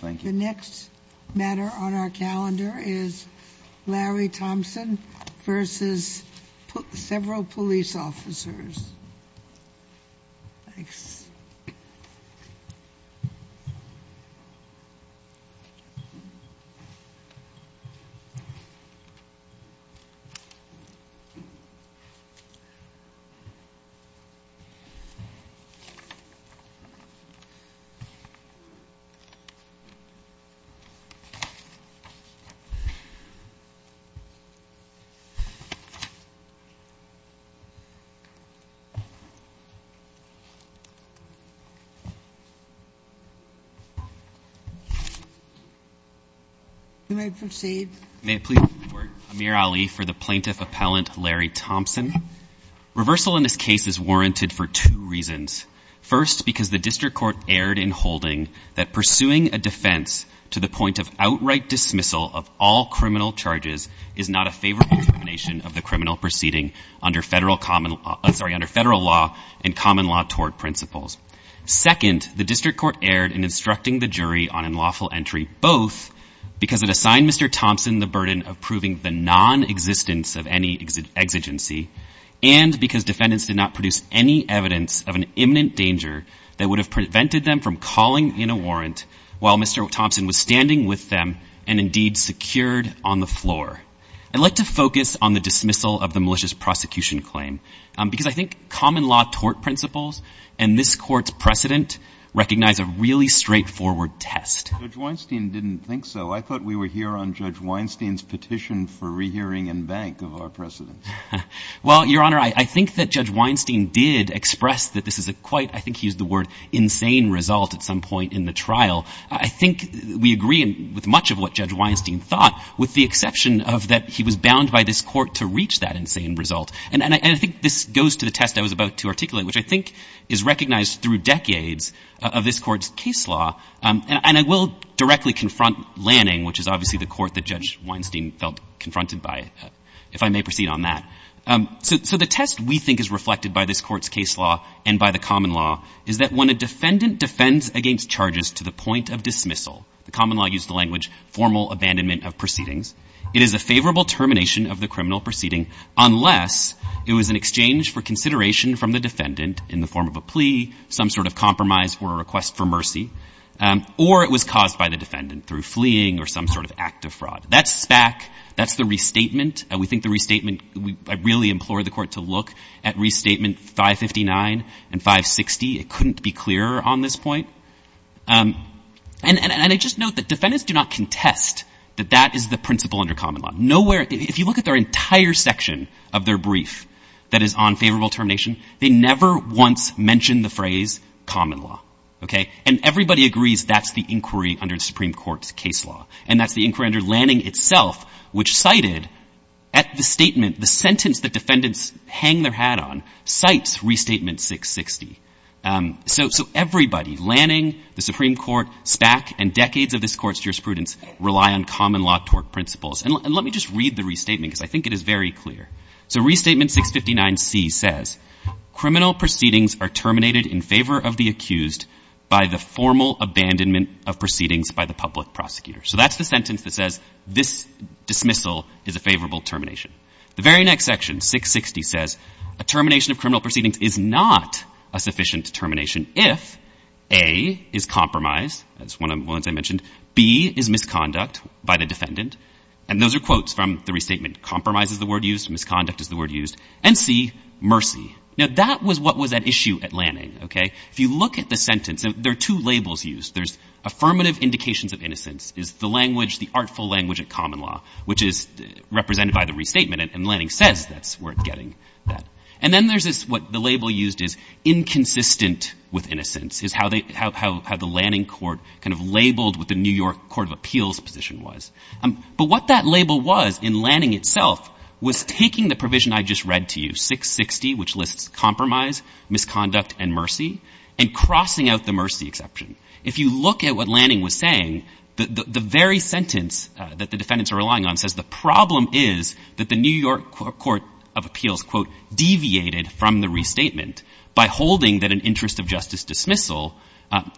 The next matter on our calendar is Larry Thompson v. several police officers. May it please the court, Amir Ali for the plaintiff appellant Larry Thompson. Reversal in this case is warranted for two reasons. First, because the district court erred in holding that pursuing a defense to the point of outright dismissal of all criminal charges is not a favorable determination of the criminal proceeding under federal law and common law tort principles. Second, the district court erred in instructing the jury on unlawful entry both because it assigned Mr. Thompson the burden of proving the non-existence of any exigency and because defendants did not produce any evidence of an imminent danger that would have prevented them from calling in a warrant while Mr. Thompson was standing with them and indeed secured on the floor. I'd like to focus on the dismissal of the malicious prosecution claim because I think common law tort principles and this court's precedent recognize a really straightforward test. Judge Weinstein didn't think so. I thought we were here on Judge Weinstein's petition for rehearing and bank of our precedents. Well, Your Honor, I think that Judge Weinstein did express that this is a quite, I think he used the word insane result at some point in the trial. I think we agree with much of what Judge Weinstein thought with the exception of that he was bound by this court to reach that insane result. And I think this goes to the test I was about to articulate, which I think is recognized through decades of this court's case law. And I will directly confront Lanning, which is obviously the court that Judge Weinstein felt confronted by, if I may proceed on that. So the test we think is reflected by this court's case law and by the common law is that when a defendant defends against charges to the point of dismissal, the common law used the language formal abandonment of proceedings, it is a favorable termination of the criminal proceeding unless it was an exchange for consideration from the defendant in the form of a plea, some sort of compromise or a request for mercy, or it was caused by the defendant through fleeing or some sort of act of fraud. That's SPAC. That's the restatement. We think the restatement, I really implore the court to look at restatement 559 and 560. It couldn't be clearer on this point. And I just note that defendants do not contest that that is the principle under common law. Nowhere, if you look at their entire section of their brief that is on favorable termination, they never once mentioned the phrase common law. OK. And everybody agrees that's the inquiry under the Supreme Court's case law. And that's the inquiry under Lanning itself, which cited at the statement the sentence that defendants hang their hat on, cites restatement 660. So everybody, Lanning, the Supreme Court, SPAC and decades of this court's jurisprudence rely on common law tort principles. And let me just read the restatement because I think it is very clear. So restatement 659C says criminal proceedings are terminated in favor of the accused by the formal abandonment of proceedings by the public prosecutor. So that's the sentence that says this dismissal is a favorable termination. The very next section, 660, says a termination of criminal proceedings is not a sufficient termination if A is compromise. That's one of the ones I mentioned. B is misconduct by the defendant. And those are quotes from the restatement. Compromise is the word used. Misconduct is the word used. And C, mercy. Now, that was what was at issue at Lanning, OK? If you look at the sentence, there are two labels used. There's affirmative indications of innocence is the language, the artful language of common law, which is represented by the restatement. And Lanning says that's worth getting that. And then there's what the label used is inconsistent with innocence, is how the Lanning court kind of labeled what the New York Court of Appeals position was. But what that label was in Lanning itself was taking the provision I just read to you, 660, which lists compromise, misconduct, and mercy, and crossing out the mercy exception. If you look at what Lanning was saying, the very sentence that the defendants are relying on says the problem is that the New York Court of Appeals, quote, deviated from the restatement by holding that an interest of justice dismissal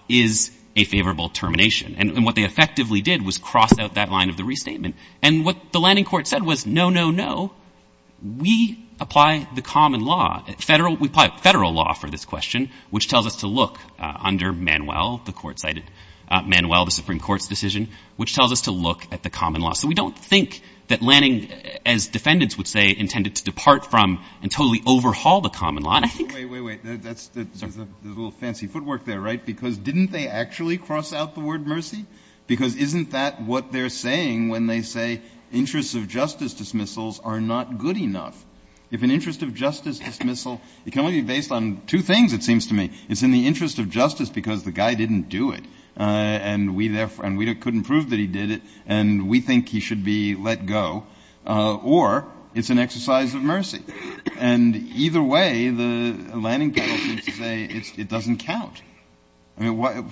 is a favorable termination. And what they effectively did was cross out that line of the restatement. And what the Lanning court said was, no, no, no. We apply the common law, federal, we apply federal law for this question, which tells us to look under Manuel, the court cited, Manuel, the Supreme Court's decision, which tells us to look at the common law. So we don't think that Lanning, as defendants would say, intended to depart from and totally overhaul the common law, I think. Wait, wait, wait. There's a little fancy footwork there, right? Because didn't they actually cross out the word mercy? Because isn't that what they're saying when they say interests of justice dismissals are not good enough? If an interest of justice dismissal, it can only be based on two things, it seems to me. It's in the interest of justice because the guy didn't do it, and we couldn't prove that he did it, and we think he should be let go. Or it's an exercise of mercy. And either way, the Lanning panel seems to say it doesn't count.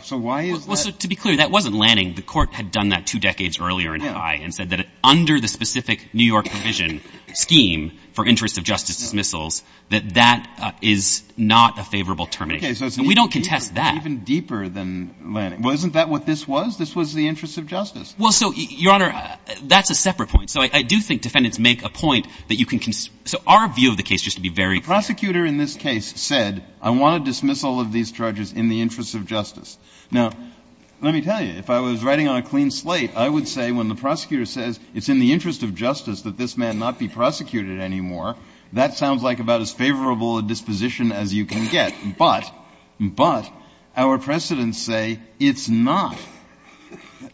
So why is that? To be clear, that wasn't Lanning. The court had done that two decades earlier in Hawaii and said that under the specific New York provision scheme for interests of justice dismissals, that that is not a favorable termination. We don't contest that. It's even deeper than Lanning. Wasn't that what this was? This was the interest of justice. Well, so, Your Honor, that's a separate point. So I do think defendants make a point that you can – so our view of the case, just to be very clear. The prosecutor in this case said, I want a dismissal of these charges in the interest of justice. Now, let me tell you, if I was writing on a clean slate, I would say when the prosecutor says it's in the interest of justice that this man not be prosecuted anymore, that sounds like about as favorable a disposition as you can get. But – but our precedents say it's not.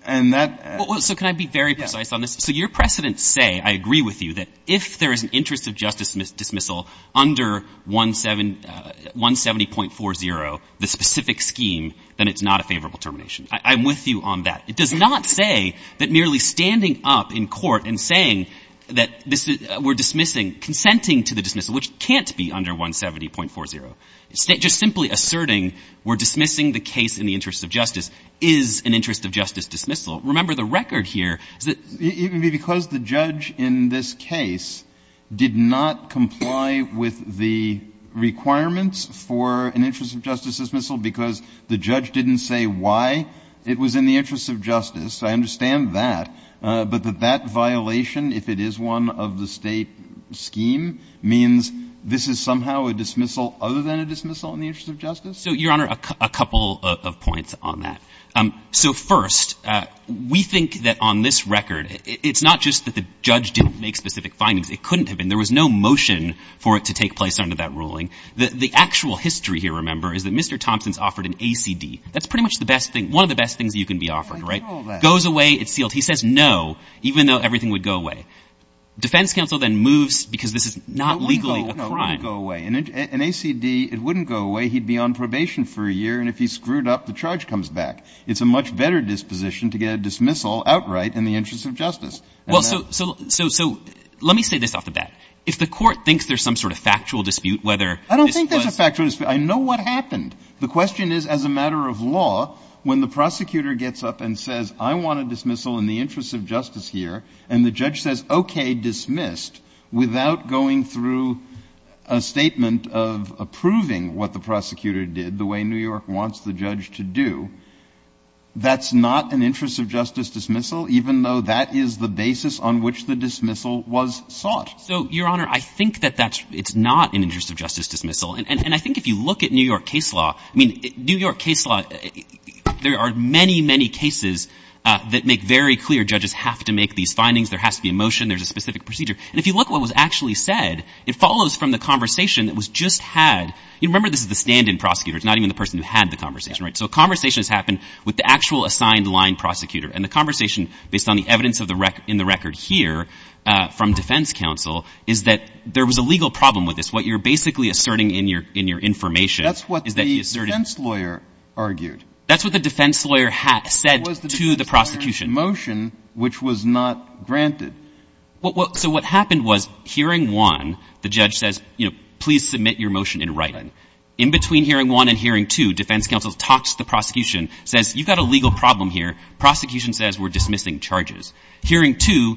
And that – Well, so can I be very precise on this? So your precedents say, I agree with you, that if there is an interest of justice dismissal under 170.40, the specific scheme, then it's not a favorable termination. I'm with you on that. It does not say that merely standing up in court and saying that this is – we're dismissing, consenting to the dismissal, which can't be under 170.40, just simply asserting we're dismissing the case in the interest of justice is an interest of justice dismissal. Remember, the record here is that – So the requirements for an interest of justice dismissal because the judge didn't say why it was in the interest of justice, I understand that, but that that violation, if it is one of the State scheme, means this is somehow a dismissal other than a dismissal in the interest of justice? So, Your Honor, a couple of points on that. So first, we think that on this record, it's not just that the judge didn't make specific findings. It couldn't have been. There was no motion for it to take place under that ruling. The actual history here, remember, is that Mr. Thompson's offered an ACD. That's pretty much the best thing – one of the best things you can be offered, right? I get all that. Goes away. It's sealed. He says no, even though everything would go away. Defense counsel then moves because this is not legally a crime. No, it wouldn't go away. An ACD, it wouldn't go away. He'd be on probation for a year, and if he screwed up, the charge comes back. It's a much better disposition to get a dismissal outright in the interest of justice. Well, so let me say this off the bat. If the Court thinks there's some sort of factual dispute, whether this was – I don't think there's a factual dispute. I know what happened. The question is, as a matter of law, when the prosecutor gets up and says, I want a dismissal in the interest of justice here, and the judge says, okay, dismissed, without going through a statement of approving what the prosecutor did, the way New York wants the judge to do, that's not an interest of justice dismissal, even though that is the basis on which the dismissal was sought. So, Your Honor, I think that that's – it's not an interest of justice dismissal. And I think if you look at New York case law – I mean, New York case law, there are many, many cases that make very clear judges have to make these findings. There has to be a motion. There's a specific procedure. And if you look at what was actually said, it follows from the conversation that was just had. You remember this is the stand-in prosecutor. It's not even the person who had the conversation, right? So a conversation has happened with the actual assigned-line prosecutor, and the evidence in the record here from defense counsel is that there was a legal problem with this. What you're basically asserting in your information is that he asserted – That's what the defense lawyer argued. That's what the defense lawyer said to the prosecution. That was the defense lawyer's motion, which was not granted. So what happened was, hearing one, the judge says, you know, please submit your motion in writing. In between hearing one and hearing two, defense counsel talks to the prosecution, says, you've got a legal problem here. Prosecution says, we're dismissing charges. Hearing two,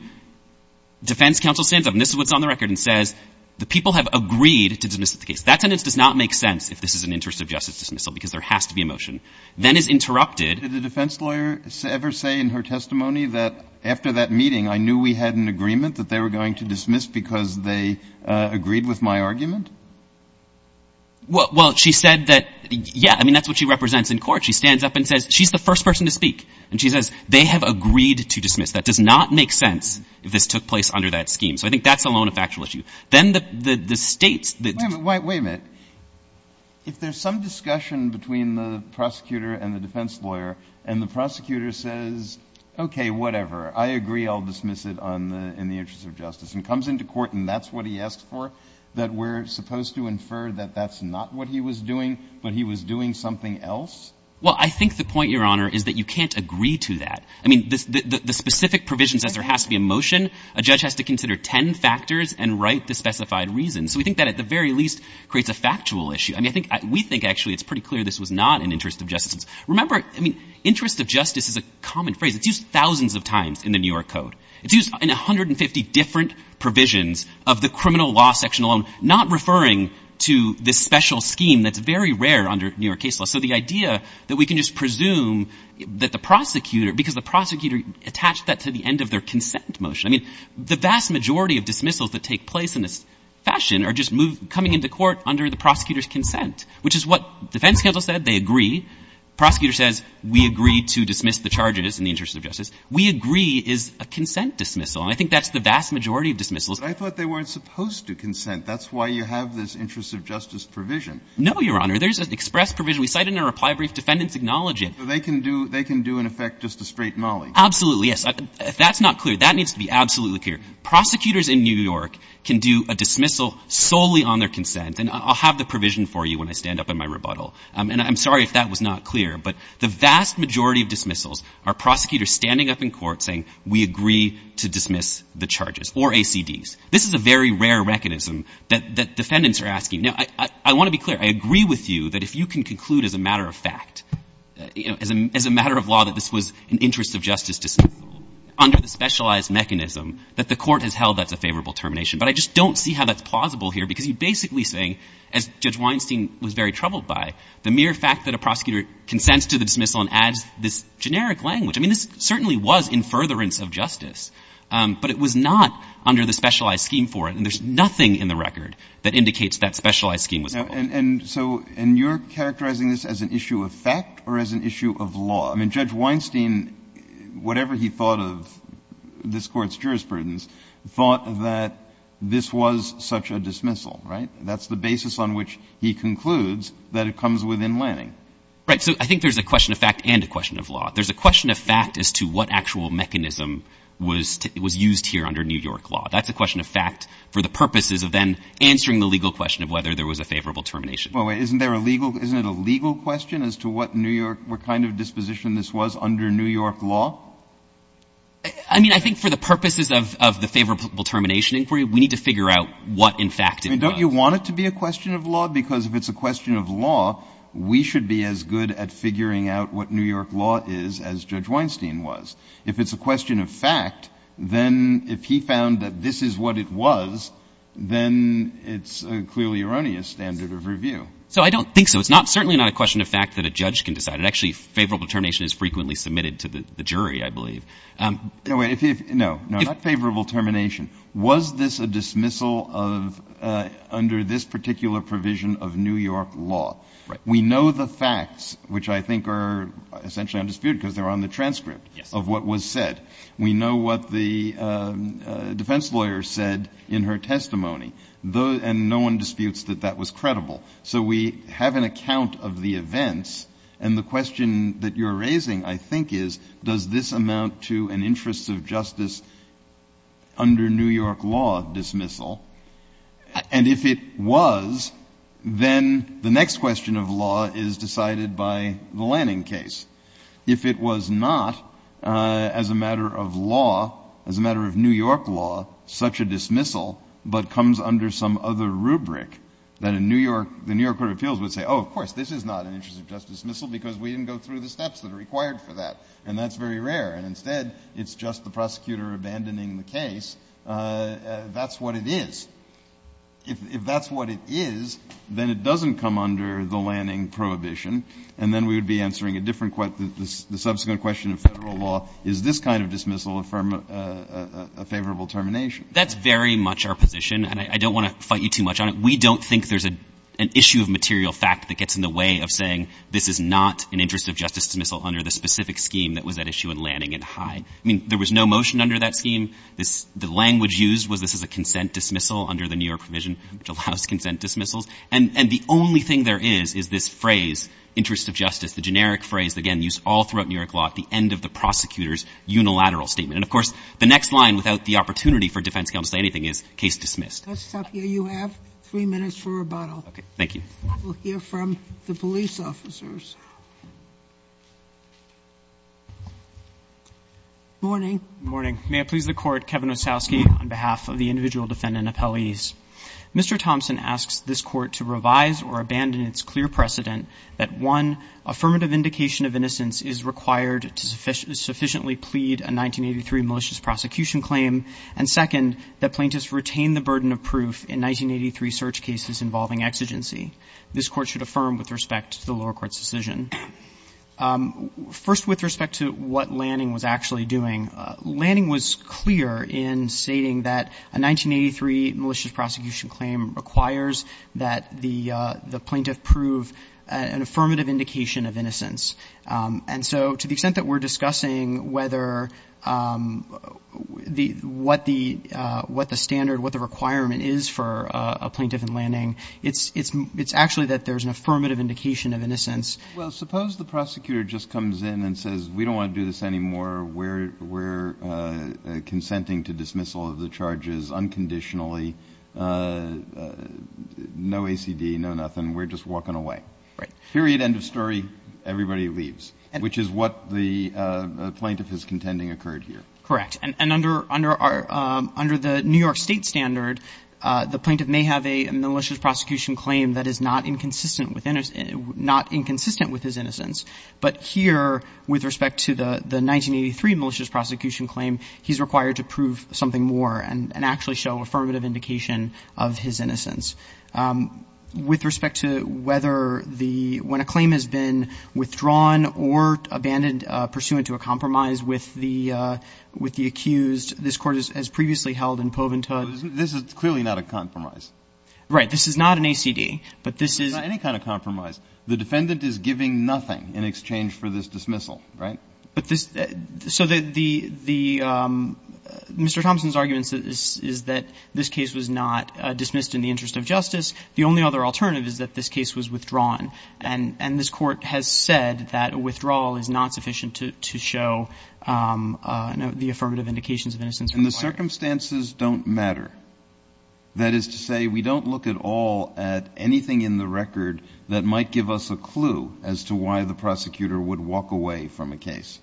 defense counsel stands up, and this is what's on the record, and says, the people have agreed to dismiss the case. That sentence does not make sense if this is an interest of justice dismissal because there has to be a motion. Then is interrupted. Did the defense lawyer ever say in her testimony that, after that meeting, I knew we had an agreement that they were going to dismiss because they agreed with my argument? Well, she said that, yeah, I mean, that's what she represents in court. She stands up and says she's the first person to speak. And she says, they have agreed to dismiss. That does not make sense if this took place under that scheme. So I think that's alone a factual issue. Then the States that — Wait a minute. If there's some discussion between the prosecutor and the defense lawyer, and the prosecutor says, okay, whatever, I agree, I'll dismiss it on the — in the interest of justice, and comes into court and that's what he asked for, that we're supposed to infer that that's not what he was doing, but he was doing something else? Well, I think the point, Your Honor, is that you can't agree to that. I mean, the specific provision says there has to be a motion. A judge has to consider ten factors and write the specified reason. So we think that, at the very least, creates a factual issue. I mean, I think — we think, actually, it's pretty clear this was not an interest of justice. Remember, I mean, interest of justice is a common phrase. It's used thousands of times in the New York Code. It's used in 150 different provisions of the criminal law section alone, not referring to this special scheme that's very rare under New York case law. So the idea that we can just presume that the prosecutor — because the prosecutor attached that to the end of their consent motion. I mean, the vast majority of dismissals that take place in this fashion are just moved — coming into court under the prosecutor's consent, which is what defense counsel said, they agree. The prosecutor says, we agree to dismiss the charges in the interest of justice. We agree is a consent dismissal. And I think that's the vast majority of dismissals. But I thought they weren't supposed to consent. That's why you have this interest of justice provision. No, Your Honor. There's an express provision. We cite it in our reply brief. Defendants acknowledge it. But they can do — they can do, in effect, just a straight molly. Absolutely, yes. If that's not clear, that needs to be absolutely clear. Prosecutors in New York can do a dismissal solely on their consent. And I'll have the provision for you when I stand up in my rebuttal. And I'm sorry if that was not clear. But the vast majority of dismissals are prosecutors standing up in court saying, we agree to dismiss the charges or ACDs. This is a very rare mechanism that defendants are asking. Now, I want to be clear. I agree with you that if you can conclude as a matter of fact, you know, as a matter of law that this was an interest of justice dismissal, under the specialized mechanism that the court has held that's a favorable termination. But I just don't see how that's plausible here because you're basically saying, as Judge Weinstein was very troubled by, the mere fact that a prosecutor consents to the dismissal and adds this generic language. I mean, this certainly was in furtherance of justice. But it was not under the specialized scheme for it. And there's nothing in the record that indicates that specialized scheme was held. And so you're characterizing this as an issue of fact or as an issue of law? I mean, Judge Weinstein, whatever he thought of this court's jurisprudence, thought that this was such a dismissal, right? That's the basis on which he concludes that it comes within landing. Right. So I think there's a question of fact and a question of law. There's a question of fact as to what actual mechanism was used here under New York law. That's a question of fact for the purposes of then answering the legal question of whether there was a favorable termination. Isn't there a legal question as to what New York, what kind of disposition this was under New York law? I mean, I think for the purposes of the favorable termination inquiry, we need to figure out what, in fact, it was. Don't you want it to be a question of law? Because if it's a question of law, we should be as good at figuring out what New York law is as Judge Weinstein was. If it's a question of fact, then if he found that this is what it was, then it's a clearly erroneous standard of review. So I don't think so. It's certainly not a question of fact that a judge can decide. Actually, favorable termination is frequently submitted to the jury, I believe. No, not favorable termination. Was this a dismissal under this particular provision of New York law? Right. We know the facts, which I think are essentially undisputed because they're on the transcript of what was said. Yes. We know what the defense lawyer said in her testimony, and no one disputes that that was credible. So we have an account of the events, and the question that you're raising, I think, is does this amount to an interests of justice under New York law dismissal? And if it was, then the next question of law is decided by the Lanning case. If it was not, as a matter of law, as a matter of New York law, such a dismissal but comes under some other rubric, then the New York Court of Appeals would say, oh, of course, this is not an interests of justice dismissal because we didn't go through the steps that are required for that. And that's very rare. And instead, it's just the prosecutor abandoning the case. That's what it is. If that's what it is, then it doesn't come under the Lanning prohibition. And then we would be answering a different question, the subsequent question of federal law. Is this kind of dismissal a favorable termination? That's very much our position, and I don't want to fight you too much on it. We don't think there's an issue of material fact that gets in the way of saying this is not an interests of justice dismissal under the specific scheme that was at issue in Lanning and High. I mean, there was no motion under that scheme. The language used was this is a consent dismissal under the New York provision, which allows consent dismissals. And the only thing there is, is this phrase, interests of justice, the generic phrase, again, used all throughout New York law, at the end of the prosecutor's unilateral statement. And of course, the next line, without the opportunity for defense counsel to say anything, is case dismissed. Let's stop here. You have three minutes for rebuttal. Okay. Thank you. We'll hear from the police officers. Morning. Good morning. May it please the Court, Kevin Osowski, on behalf of the individual defendant and appellees. Mr. Thompson asks this Court to revise or abandon its clear precedent that, one, affirmative indication of innocence is required to sufficiently plead a 1983 malicious prosecution claim, and, second, that plaintiffs retain the burden of proof in 1983 search cases involving exigency. This Court should affirm with respect to the lower court's decision. First, with respect to what Lanning was actually doing, Lanning was clear in stating that a 1983 malicious prosecution claim requires that the plaintiff prove an affirmative indication of innocence. And so to the extent that we're discussing whether the – what the standard, what the requirement is for a plaintiff in Lanning, it's actually that there's an affirmative indication of innocence. Well, suppose the prosecutor just comes in and says, we don't want to do this anymore, we're consenting to dismissal of the charges unconditionally, no ACD, no nothing, we're just walking away. Right. Period, end of story, everybody leaves, which is what the plaintiff is contending occurred here. Correct. And under our – under the New York State standard, the plaintiff may have a malicious prosecution claim that is not inconsistent with – not inconsistent with his innocence. But here, with respect to the 1983 malicious prosecution claim, he's required to prove something more and actually show affirmative indication of his innocence. With respect to whether the – when a claim has been withdrawn or abandoned pursuant to a compromise with the accused, this Court has previously held in Povent hood. This is clearly not a compromise. Right. This is not an ACD. But this is – It's not any kind of compromise. The defendant is giving nothing in exchange for this dismissal. Right. But this – so the – Mr. Thompson's argument is that this case was not dismissed in the interest of justice. The only other alternative is that this case was withdrawn. And this Court has said that a withdrawal is not sufficient to show the affirmative indications of innocence required. And the circumstances don't matter. That is to say, we don't look at all at anything in the record that might give us a clue as to why the prosecutor would walk away from a case.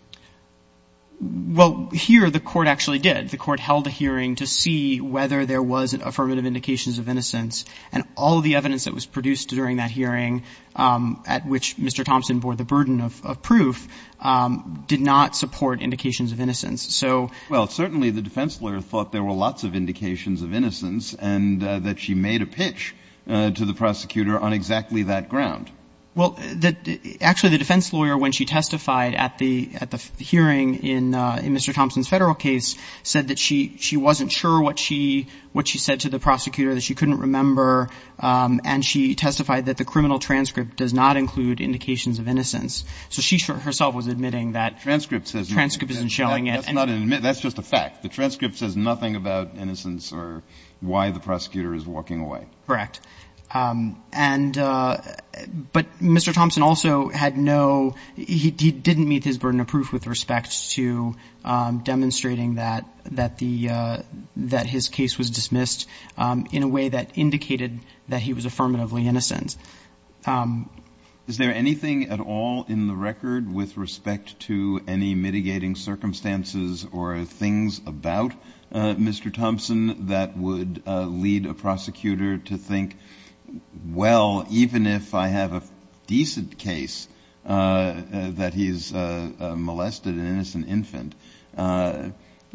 Well, here the Court actually did. The Court held a hearing to see whether there was affirmative indications of innocence. And all of the evidence that was produced during that hearing, at which Mr. Thompson bore the burden of proof, did not support indications of innocence. So – Well, certainly the defense lawyer thought there were lots of indications of innocence and that she made a pitch to the prosecutor on exactly that ground. Well, actually, the defense lawyer, when she testified at the hearing in Mr. Thompson's Federal case, said that she wasn't sure what she said to the prosecutor, that she couldn't remember. And she testified that the criminal transcript does not include indications of innocence. So she herself was admitting that – Transcript says – That's just a fact. The transcript says nothing about innocence or why the prosecutor is walking away. Correct. And – but Mr. Thompson also had no – he didn't meet his burden of proof with respect to demonstrating that the – that his case was dismissed in a way that indicated that he was affirmatively innocent. Is there anything at all in the record with respect to any mitigating circumstances or things about Mr. Thompson that would lead a prosecutor to think, well, even if I have a decent case that he's molested an innocent infant,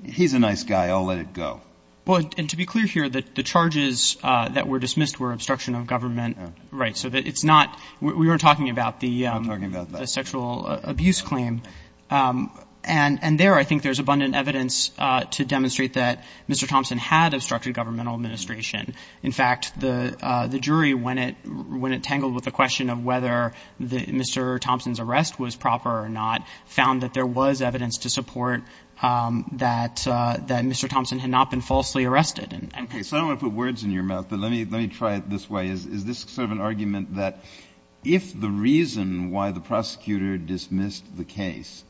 he's a nice guy. I'll let it go. Well, and to be clear here, the charges that were dismissed were obstruction of government rights. So it's not – we were talking about the – We were talking about that. The sexual abuse claim. And there I think there's abundant evidence to demonstrate that Mr. Thompson had obstructed governmental administration. In fact, the jury, when it tangled with the question of whether Mr. Thompson's arrest was proper or not, found that there was evidence to support that Mr. Thompson had not been falsely arrested. Okay. So I don't want to put words in your mouth, but let me try it this way. Is this sort of an argument that if the reason why the prosecutor dismissed the case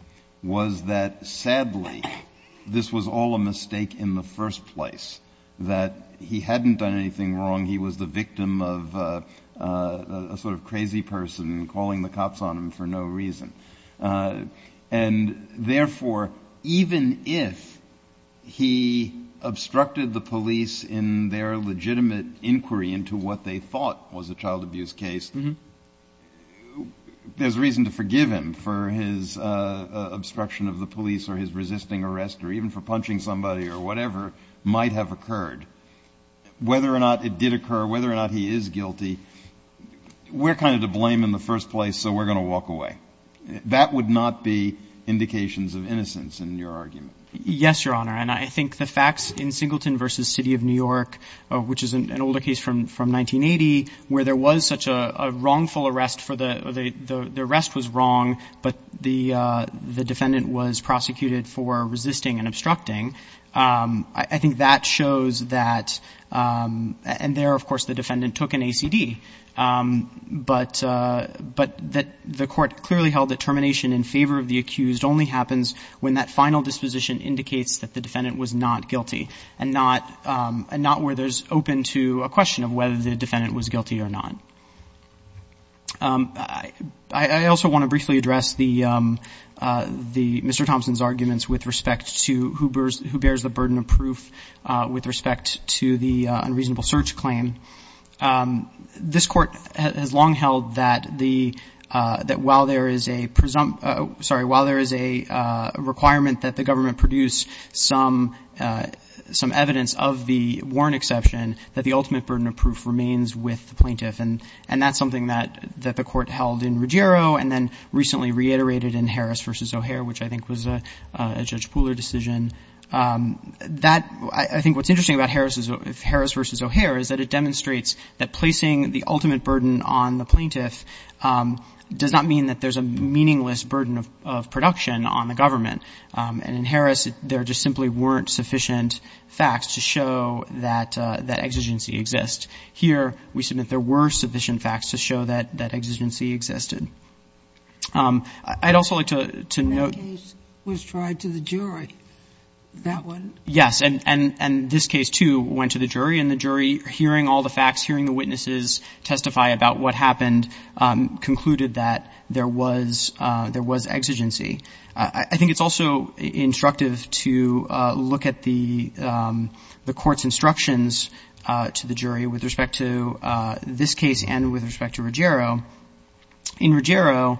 was that sadly this was all a mistake in the first place, that he hadn't done anything wrong, he was the victim of a sort of crazy person calling the cops on him for no reason, and therefore even if he obstructed the police in their legitimate inquiry into what they thought was a child abuse case, there's reason to forgive him for his obstruction of the police or his resisting arrest or even for punching somebody or whatever might have occurred. Whether or not it did occur, whether or not he is guilty, we're kind of to blame in the first place, so we're going to walk away. That would not be indications of innocence in your argument. Yes, Your Honor. And I think the facts in Singleton v. City of New York, which is an older case from 1980, where there was such a wrongful arrest for the — the arrest was wrong, but the defendant was prosecuted for resisting and obstructing, I think that shows that — and there, of course, the defendant took an ACD. But the court clearly held that termination in favor of the accused only happens when that final disposition indicates that the defendant was not guilty and not where there's open to a question of whether the defendant was guilty or not. I also want to briefly address the — Mr. Thompson's arguments with respect to who bears the burden of proof with respect to the unreasonable search claim. This Court has long held that the — that while there is a — sorry, while there is a requirement that the government produce some evidence of the warrant exception, that the ultimate burden of proof remains with the plaintiff. And that's something that the Court held in Ruggiero and then recently reiterated in Harris v. O'Hare, which I think was a Judge Pooler decision. That — I think what's interesting about Harris v. O'Hare is that it demonstrates that placing the ultimate burden on the plaintiff does not mean that there's a meaningless burden of production on the government. And in Harris, there just simply weren't sufficient facts to show that exigency exists. Here, we submit there were sufficient facts to show that exigency existed. I'd also like to note — And that was tried to the jury. That one? Yes. And this case, too, went to the jury. And the jury, hearing all the facts, hearing the witnesses testify about what happened, concluded that there was — there was exigency. I think it's also instructive to look at the Court's instructions to the jury with respect to this case and with respect to Ruggiero. In Ruggiero,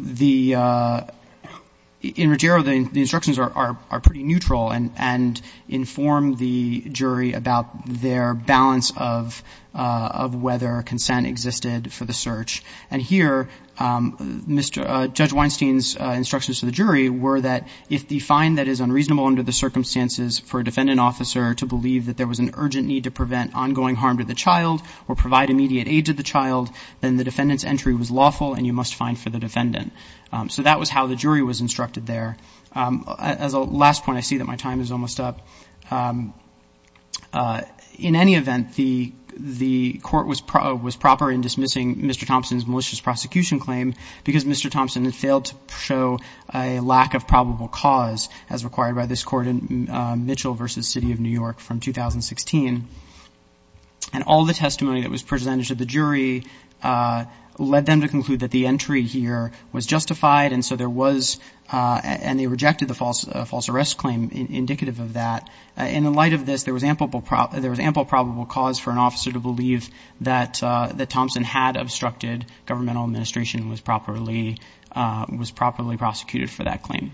the — in Ruggiero, the instructions are pretty neutral and inform the jury about their balance of whether consent existed for the search. And here, Judge Weinstein's instructions to the jury were that if the fine that is unreasonable under the circumstances for a defendant officer to believe that there was an urgent need to prevent ongoing harm to the child or provide immediate aid to the child, then the defendant's entry was lawful and you must find for the defendant. So that was how the jury was instructed there. As a last point, I see that my time is almost up. In any event, the Court was proper in dismissing Mr. Thompson's malicious prosecution claim because Mr. Thompson had failed to show a lack of probable cause, as required by this Court in Mitchell v. City of New York from 2016. And all the testimony that was presented to the jury led them to conclude that the entry here was justified, and so there was — and they rejected the false — false arrest claim indicative of that. In the light of this, there was ample probable cause for an officer to believe that Thompson had obstructed governmental administration and was properly prosecuted for that claim,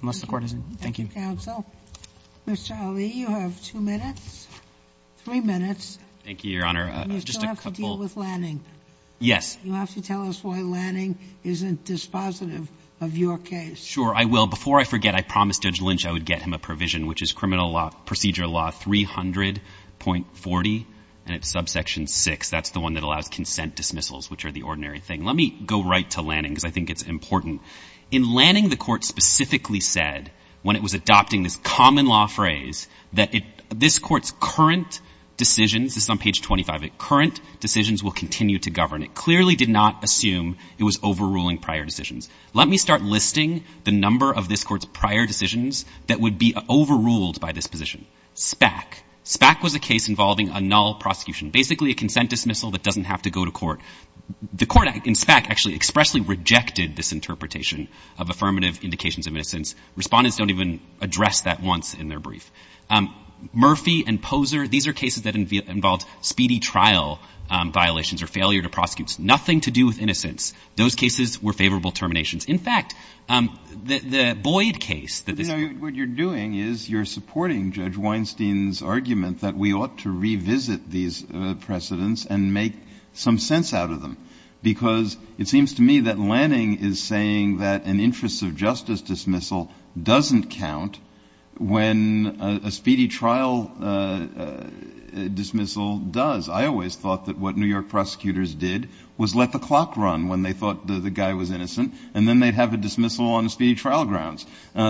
unless the Court isn't — thank you. Thank you, counsel. Mr. Ali, you have two minutes, three minutes. Thank you, Your Honor. You still have to deal with Lanning. Yes. You have to tell us why Lanning isn't dispositive of your case. Sure, I will. Before I forget, I promised Judge Lynch I would get him a provision, which is Criminal Law — Procedure Law 300.40, and it's subsection 6. That's the one that allows consent dismissals, which are the ordinary thing. Let me go right to Lanning because I think it's important. In Lanning, the Court specifically said, when it was adopting this common-law phrase, that it — this Court's current decisions — this is on page 25 — that current decisions will continue to govern. It clearly did not assume it was overruling prior decisions. Let me start listing the number of this Court's prior decisions that would be overruled by this position. SPAC. SPAC was a case involving a null prosecution, basically a consent dismissal that doesn't have to go to court. The Court in SPAC actually expressly rejected this interpretation of affirmative indications of innocence. Respondents don't even address that once in their brief. Murphy and Poser, these are cases that involved speedy trial violations or failure to prosecute. Nothing to do with innocence. Those cases were favorable terminations. In fact, the Boyd case that this Court — But, you know, what you're doing is you're supporting Judge Weinstein's argument that we ought to revisit these precedents and make some sense out of them, because it seems to me that Lanning is saying that an interests of justice dismissal doesn't count when a speedy trial dismissal does. I always thought that what New York prosecutors did was let the clock run when they thought the guy was innocent, and then they'd have a dismissal on speedy trial grounds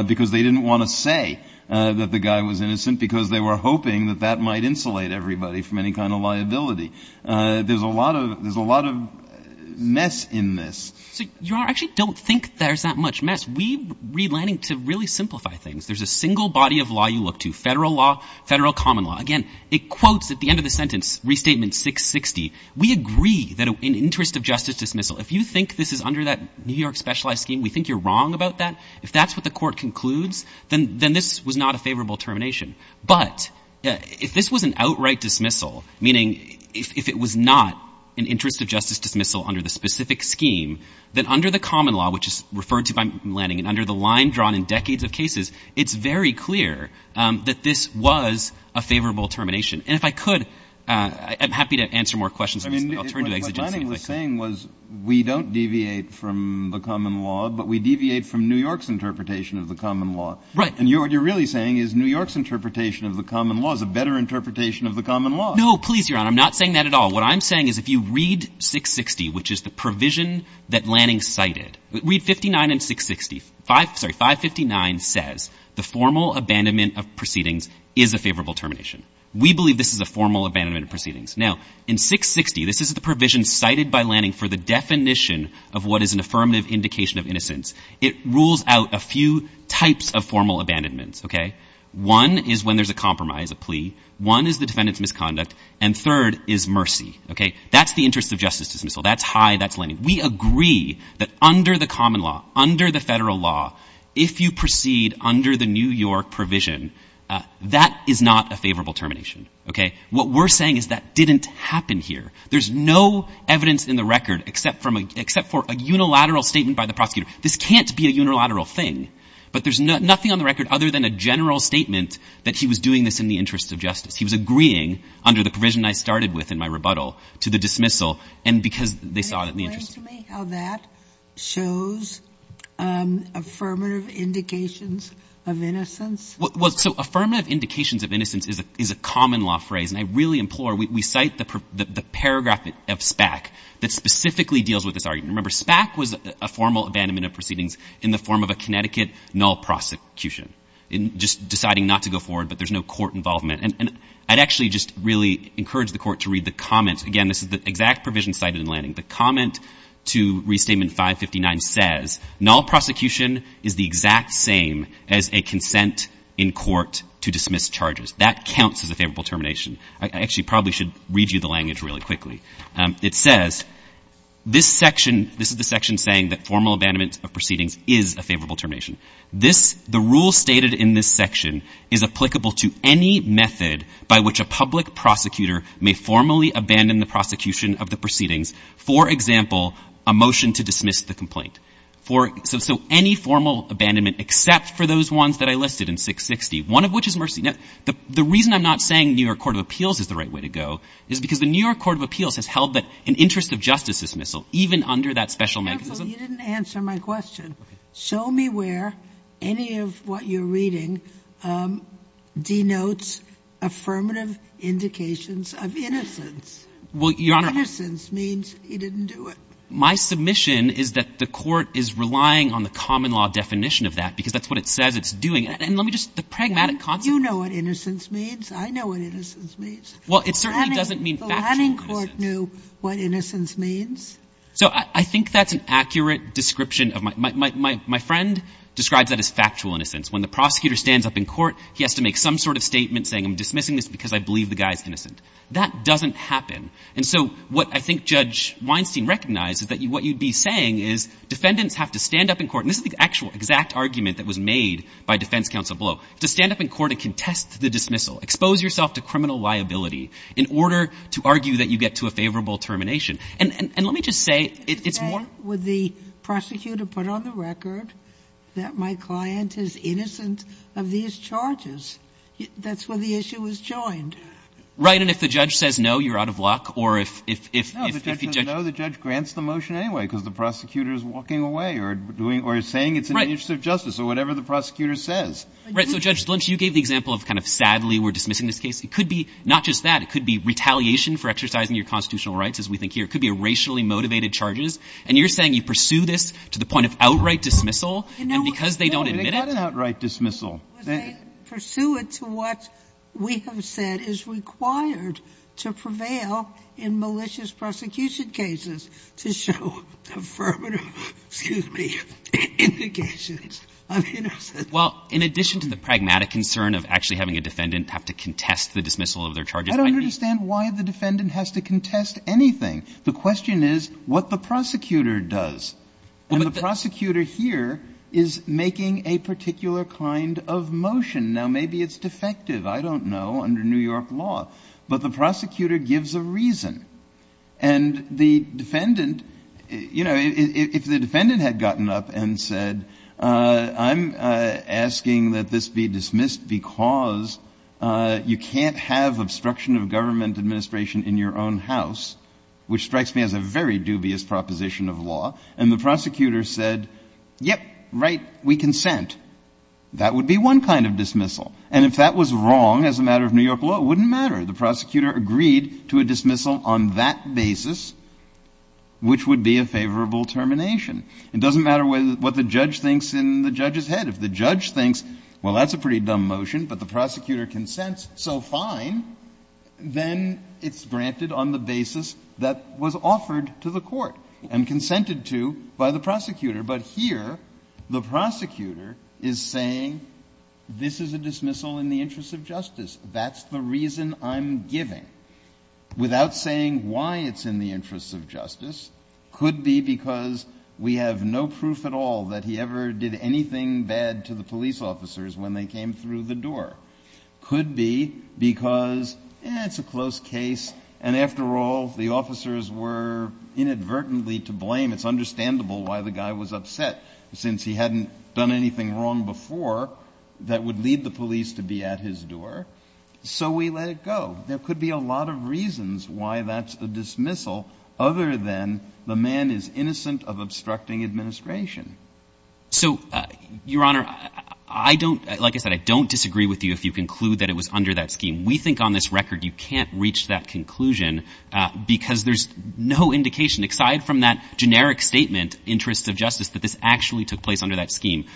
because they didn't want to say that the guy was innocent because they were hoping that that might insulate everybody from any kind of liability. There's a lot of mess in this. So you actually don't think there's that much mess. We read Lanning to really simplify things. There's a single body of law you look to, federal law, federal common law. Again, it quotes at the end of the sentence, Restatement 660. We agree that an interests of justice dismissal, if you think this is under that New York specialized scheme, we think you're wrong about that. If that's what the Court concludes, then this was not a favorable termination. But if this was an outright dismissal, meaning if it was not an interests of justice dismissal under the specific scheme, then under the common law, which is referred to by Lanning, and under the line drawn in decades of cases, it's very clear that this was a favorable termination. And if I could, I'm happy to answer more questions. I'll turn to the exegetes. Kennedy. But what Lanning was saying was we don't deviate from the common law, but we deviate from New York's interpretation of the common law. Right. And what you're really saying is New York's interpretation of the common law is a better interpretation of the common law. No, please, Your Honor. I'm not saying that at all. What I'm saying is if you read 660, which is the provision that Lanning cited, read 59 and 660, sorry, 559 says the formal abandonment of proceedings is a favorable termination. We believe this is a formal abandonment of proceedings. Now, in 660, this is the provision cited by Lanning for the definition of what is an affirmative indication of innocence. It rules out a few types of formal abandonments, okay? One is when there's a compromise, a plea. One is the defendant's misconduct. And third is mercy, okay? That's the interests of justice dismissal. That's high. That's Lanning. We agree that under the common law, under the federal law, if you proceed under the New York provision, that is not a favorable termination, okay? What we're saying is that didn't happen here. There's no evidence in the record except for a unilateral statement by the prosecutor. This can't be a unilateral thing. But there's nothing on the record other than a general statement that he was doing this in the interest of justice. He was agreeing under the provision I started with in my rebuttal to the dismissal and because they saw it in the interest. Can you explain to me how that shows affirmative indications of innocence? Well, so affirmative indications of innocence is a common law phrase. And I really implore, we cite the paragraph of SPAC that specifically deals with this argument. Remember, SPAC was a formal abandonment of proceedings in the form of a Connecticut null prosecution, just deciding not to go forward, but there's no court involvement. And I'd actually just really encourage the court to read the comments. Again, this is the exact provision cited in Lanning. The comment to Restatement 559 says, null prosecution is the exact same as a consent in court to dismiss charges. That counts as a favorable termination. I actually probably should read you the language really quickly. It says, this section, this is the section saying that formal abandonment of proceedings is a favorable termination. This, the rule stated in this section is applicable to any method by which a public prosecutor may formally abandon the prosecution of the proceedings. For example, a motion to dismiss the complaint. So any formal abandonment except for those ones that I listed in 660, one of which is mercy. Now, the reason I'm not saying New York Court of Appeals is the right way to go is because the New York Court of Appeals has held that an interest of justice dismissal even under that special mechanism. Careful, you didn't answer my question. Okay. And this one denotes affirmative indications of innocence. Well, Your Honor — Innocence means he didn't do it. My submission is that the court is relying on the common law definition of that because that's what it says it's doing. And let me just — the pragmatic concept — You know what innocence means? I know what innocence means. Well, it certainly doesn't mean factual — The Lanning Court knew what innocence means? So I think that's an accurate description of — my friend describes that as factual In court, he has to make some sort of statement saying, I'm dismissing this because I believe the guy's innocent. That doesn't happen. And so what I think Judge Weinstein recognized is that what you'd be saying is defendants have to stand up in court — and this is the actual exact argument that was made by defense counsel Blow — to stand up in court and contest the dismissal, expose yourself to criminal liability, in order to argue that you get to a favorable termination. And let me just say it's more — I want you to put on the record that my client is innocent of these charges. That's where the issue was joined. Right. And if the judge says no, you're out of luck. No, the judge says no, the judge grants the motion anyway because the prosecutor's walking away or saying it's in the interest of justice or whatever the prosecutor says. Right. So, Judge Lynch, you gave the example of kind of sadly we're dismissing this case. It could be not just that. It could be retaliation for exercising your constitutional rights, as we think here. It could be racially motivated charges. And you're saying you pursue this to the point of outright dismissal, and because they don't admit it — No, they got an outright dismissal. They pursue it to what we have said is required to prevail in malicious prosecution cases to show affirmative, excuse me, indications of innocence. Well, in addition to the pragmatic concern of actually having a defendant have to contest the dismissal of their charges, I mean — I don't understand why the defendant has to contest anything. The question is what the prosecutor does. And the prosecutor here is making a particular kind of motion. Now, maybe it's defective. I don't know, under New York law. But the prosecutor gives a reason. And the defendant, you know, if the defendant had gotten up and said, I'm asking that this be dismissed because you can't have obstruction of government administration in your own house, which strikes me as a very dubious proposition of law, and the prosecutor said, yep, right, we consent, that would be one kind of dismissal. And if that was wrong as a matter of New York law, it wouldn't matter. The prosecutor agreed to a dismissal on that basis, which would be a favorable termination. It doesn't matter what the judge thinks in the judge's head. If the judge thinks, well, that's a pretty dumb motion, but the prosecutor consents, so fine, then it's granted on the basis that was offered to the court and consented to by the prosecutor. But here the prosecutor is saying this is a dismissal in the interest of justice. That's the reason I'm giving. Without saying why it's in the interest of justice, could be because we have no proof at all that he ever did anything bad to the police officers when they came through the door. Could be because, eh, it's a close case, and after all, the officers were inadvertently to blame. It's understandable why the guy was upset, since he hadn't done anything wrong before that would lead the police to be at his door. So we let it go. There could be a lot of reasons why that's a dismissal, other than the man is innocent of obstructing administration. So, Your Honor, I don't, like I said, I don't disagree with you if you conclude that it was under that scheme. We think on this record you can't reach that conclusion because there's no indication aside from that generic statement, interest of justice, that this actually took place under that scheme.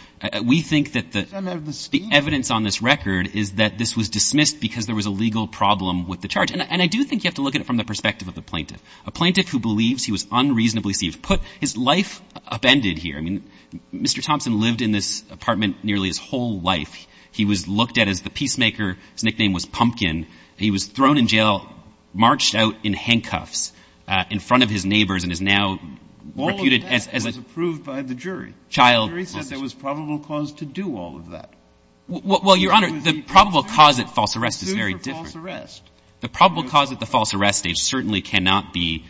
We think that the evidence on this record is that this was dismissed because there was a legal problem with the charge. And I do think you have to look at it from the perspective of the plaintiff, a plaintiff who believes he was unreasonably deceived. Put his life upended here. I mean, Mr. Thompson lived in this apartment nearly his whole life. He was looked at as the peacemaker. His nickname was Pumpkin. He was thrown in jail, marched out in handcuffs in front of his neighbors, and is now reputed as a child. All of that was approved by the jury. The jury said there was probable cause to do all of that. Well, Your Honor, the probable cause at false arrest is very different. The probable cause at the false arrest stage certainly cannot be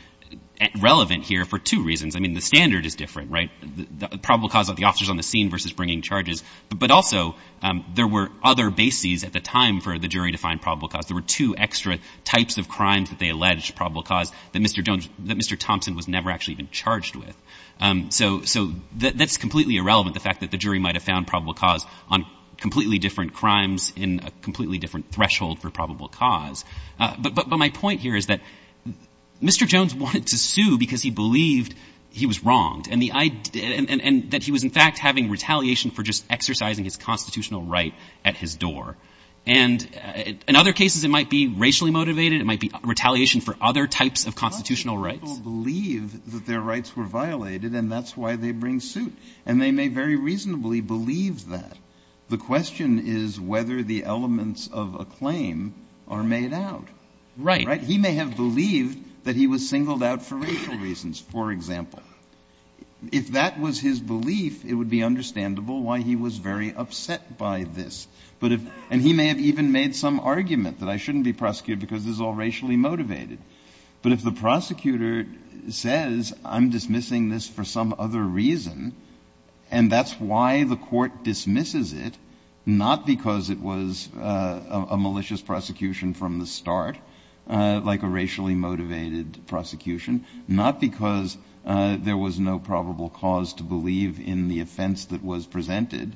relevant here for two reasons. I mean, the standard is different, right? The probable cause of the officers on the scene versus bringing charges. But also there were other bases at the time for the jury to find probable cause. There were two extra types of crimes that they alleged probable cause that Mr. Thompson was never actually even charged with. So that's completely irrelevant, the fact that the jury might have found probable cause on completely different crimes in a completely different threshold for probable cause. But my point here is that Mr. Jones wanted to sue because he believed he was wronged and that he was, in fact, having retaliation for just exercising his constitutional right at his door. And in other cases, it might be racially motivated. It might be retaliation for other types of constitutional rights. Not many people believe that their rights were violated, and that's why they bring suit. And they may very reasonably believe that. The question is whether the elements of a claim are made out. Right? He may have believed that he was singled out for racial reasons, for example. If that was his belief, it would be understandable why he was very upset by this. And he may have even made some argument that I shouldn't be prosecuted because this is all racially motivated. But if the prosecutor says I'm dismissing this for some other reason, and that's why the court dismisses it, not because it was a malicious prosecution from the start, like a racially motivated prosecution, not because there was no probable cause to believe in the offense that was presented,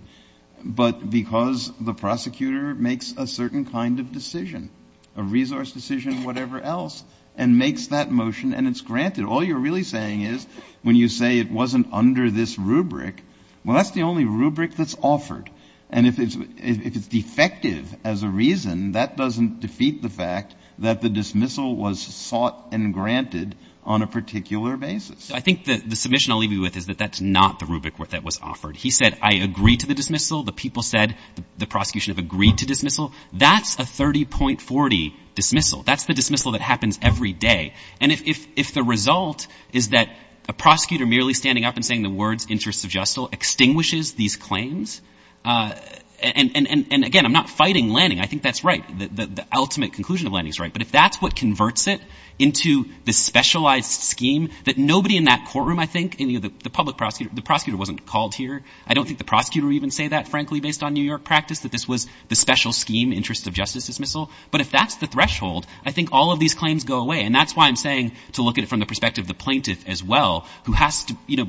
but because the prosecutor makes a certain kind of decision, a resource decision, whatever else, and makes that motion and it's granted. All you're really saying is when you say it wasn't under this rubric, well, that's the only rubric that's offered. And if it's defective as a reason, that doesn't defeat the fact that the dismissal was sought and granted on a particular basis. I think the submission I'll leave you with is that that's not the rubric that was offered. He said I agree to the dismissal. The people said the prosecution have agreed to dismissal. That's a 30.40 dismissal. That's the dismissal that happens every day. And if the result is that a prosecutor merely standing up and saying the words interests of justice extinguishes these claims, and again, I'm not fighting Lanning. I think that's right. The ultimate conclusion of Lanning is right. But if that's what converts it into the specialized scheme that nobody in that courtroom, I think, the public prosecutor, the prosecutor wasn't called here. I don't think the prosecutor would even say that, frankly, based on New York practice, that this was the special scheme, interests of justice dismissal. But if that's the threshold, I think all of these claims go away. And that's why I'm saying to look at it from the perspective of the plaintiff as well, who has to, you know,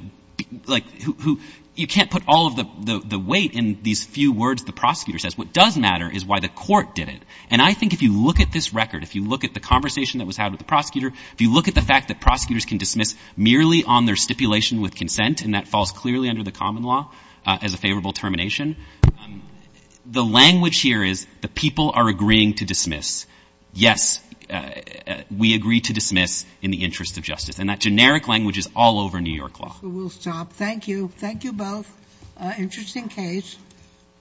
like, who you can't put all of the weight in these few words the prosecutor says. What does matter is why the court did it. And I think if you look at this record, if you look at the conversation that was had with the prosecutor, if you look at the fact that prosecutors can dismiss merely on their stipulation with consent, and that falls clearly under the common law as a favorable termination, the language here is the people are agreeing to dismiss. Yes, we agree to dismiss in the interest of justice. And that generic language is all over New York law. We'll stop. Thank you. Thank you both. Interesting case.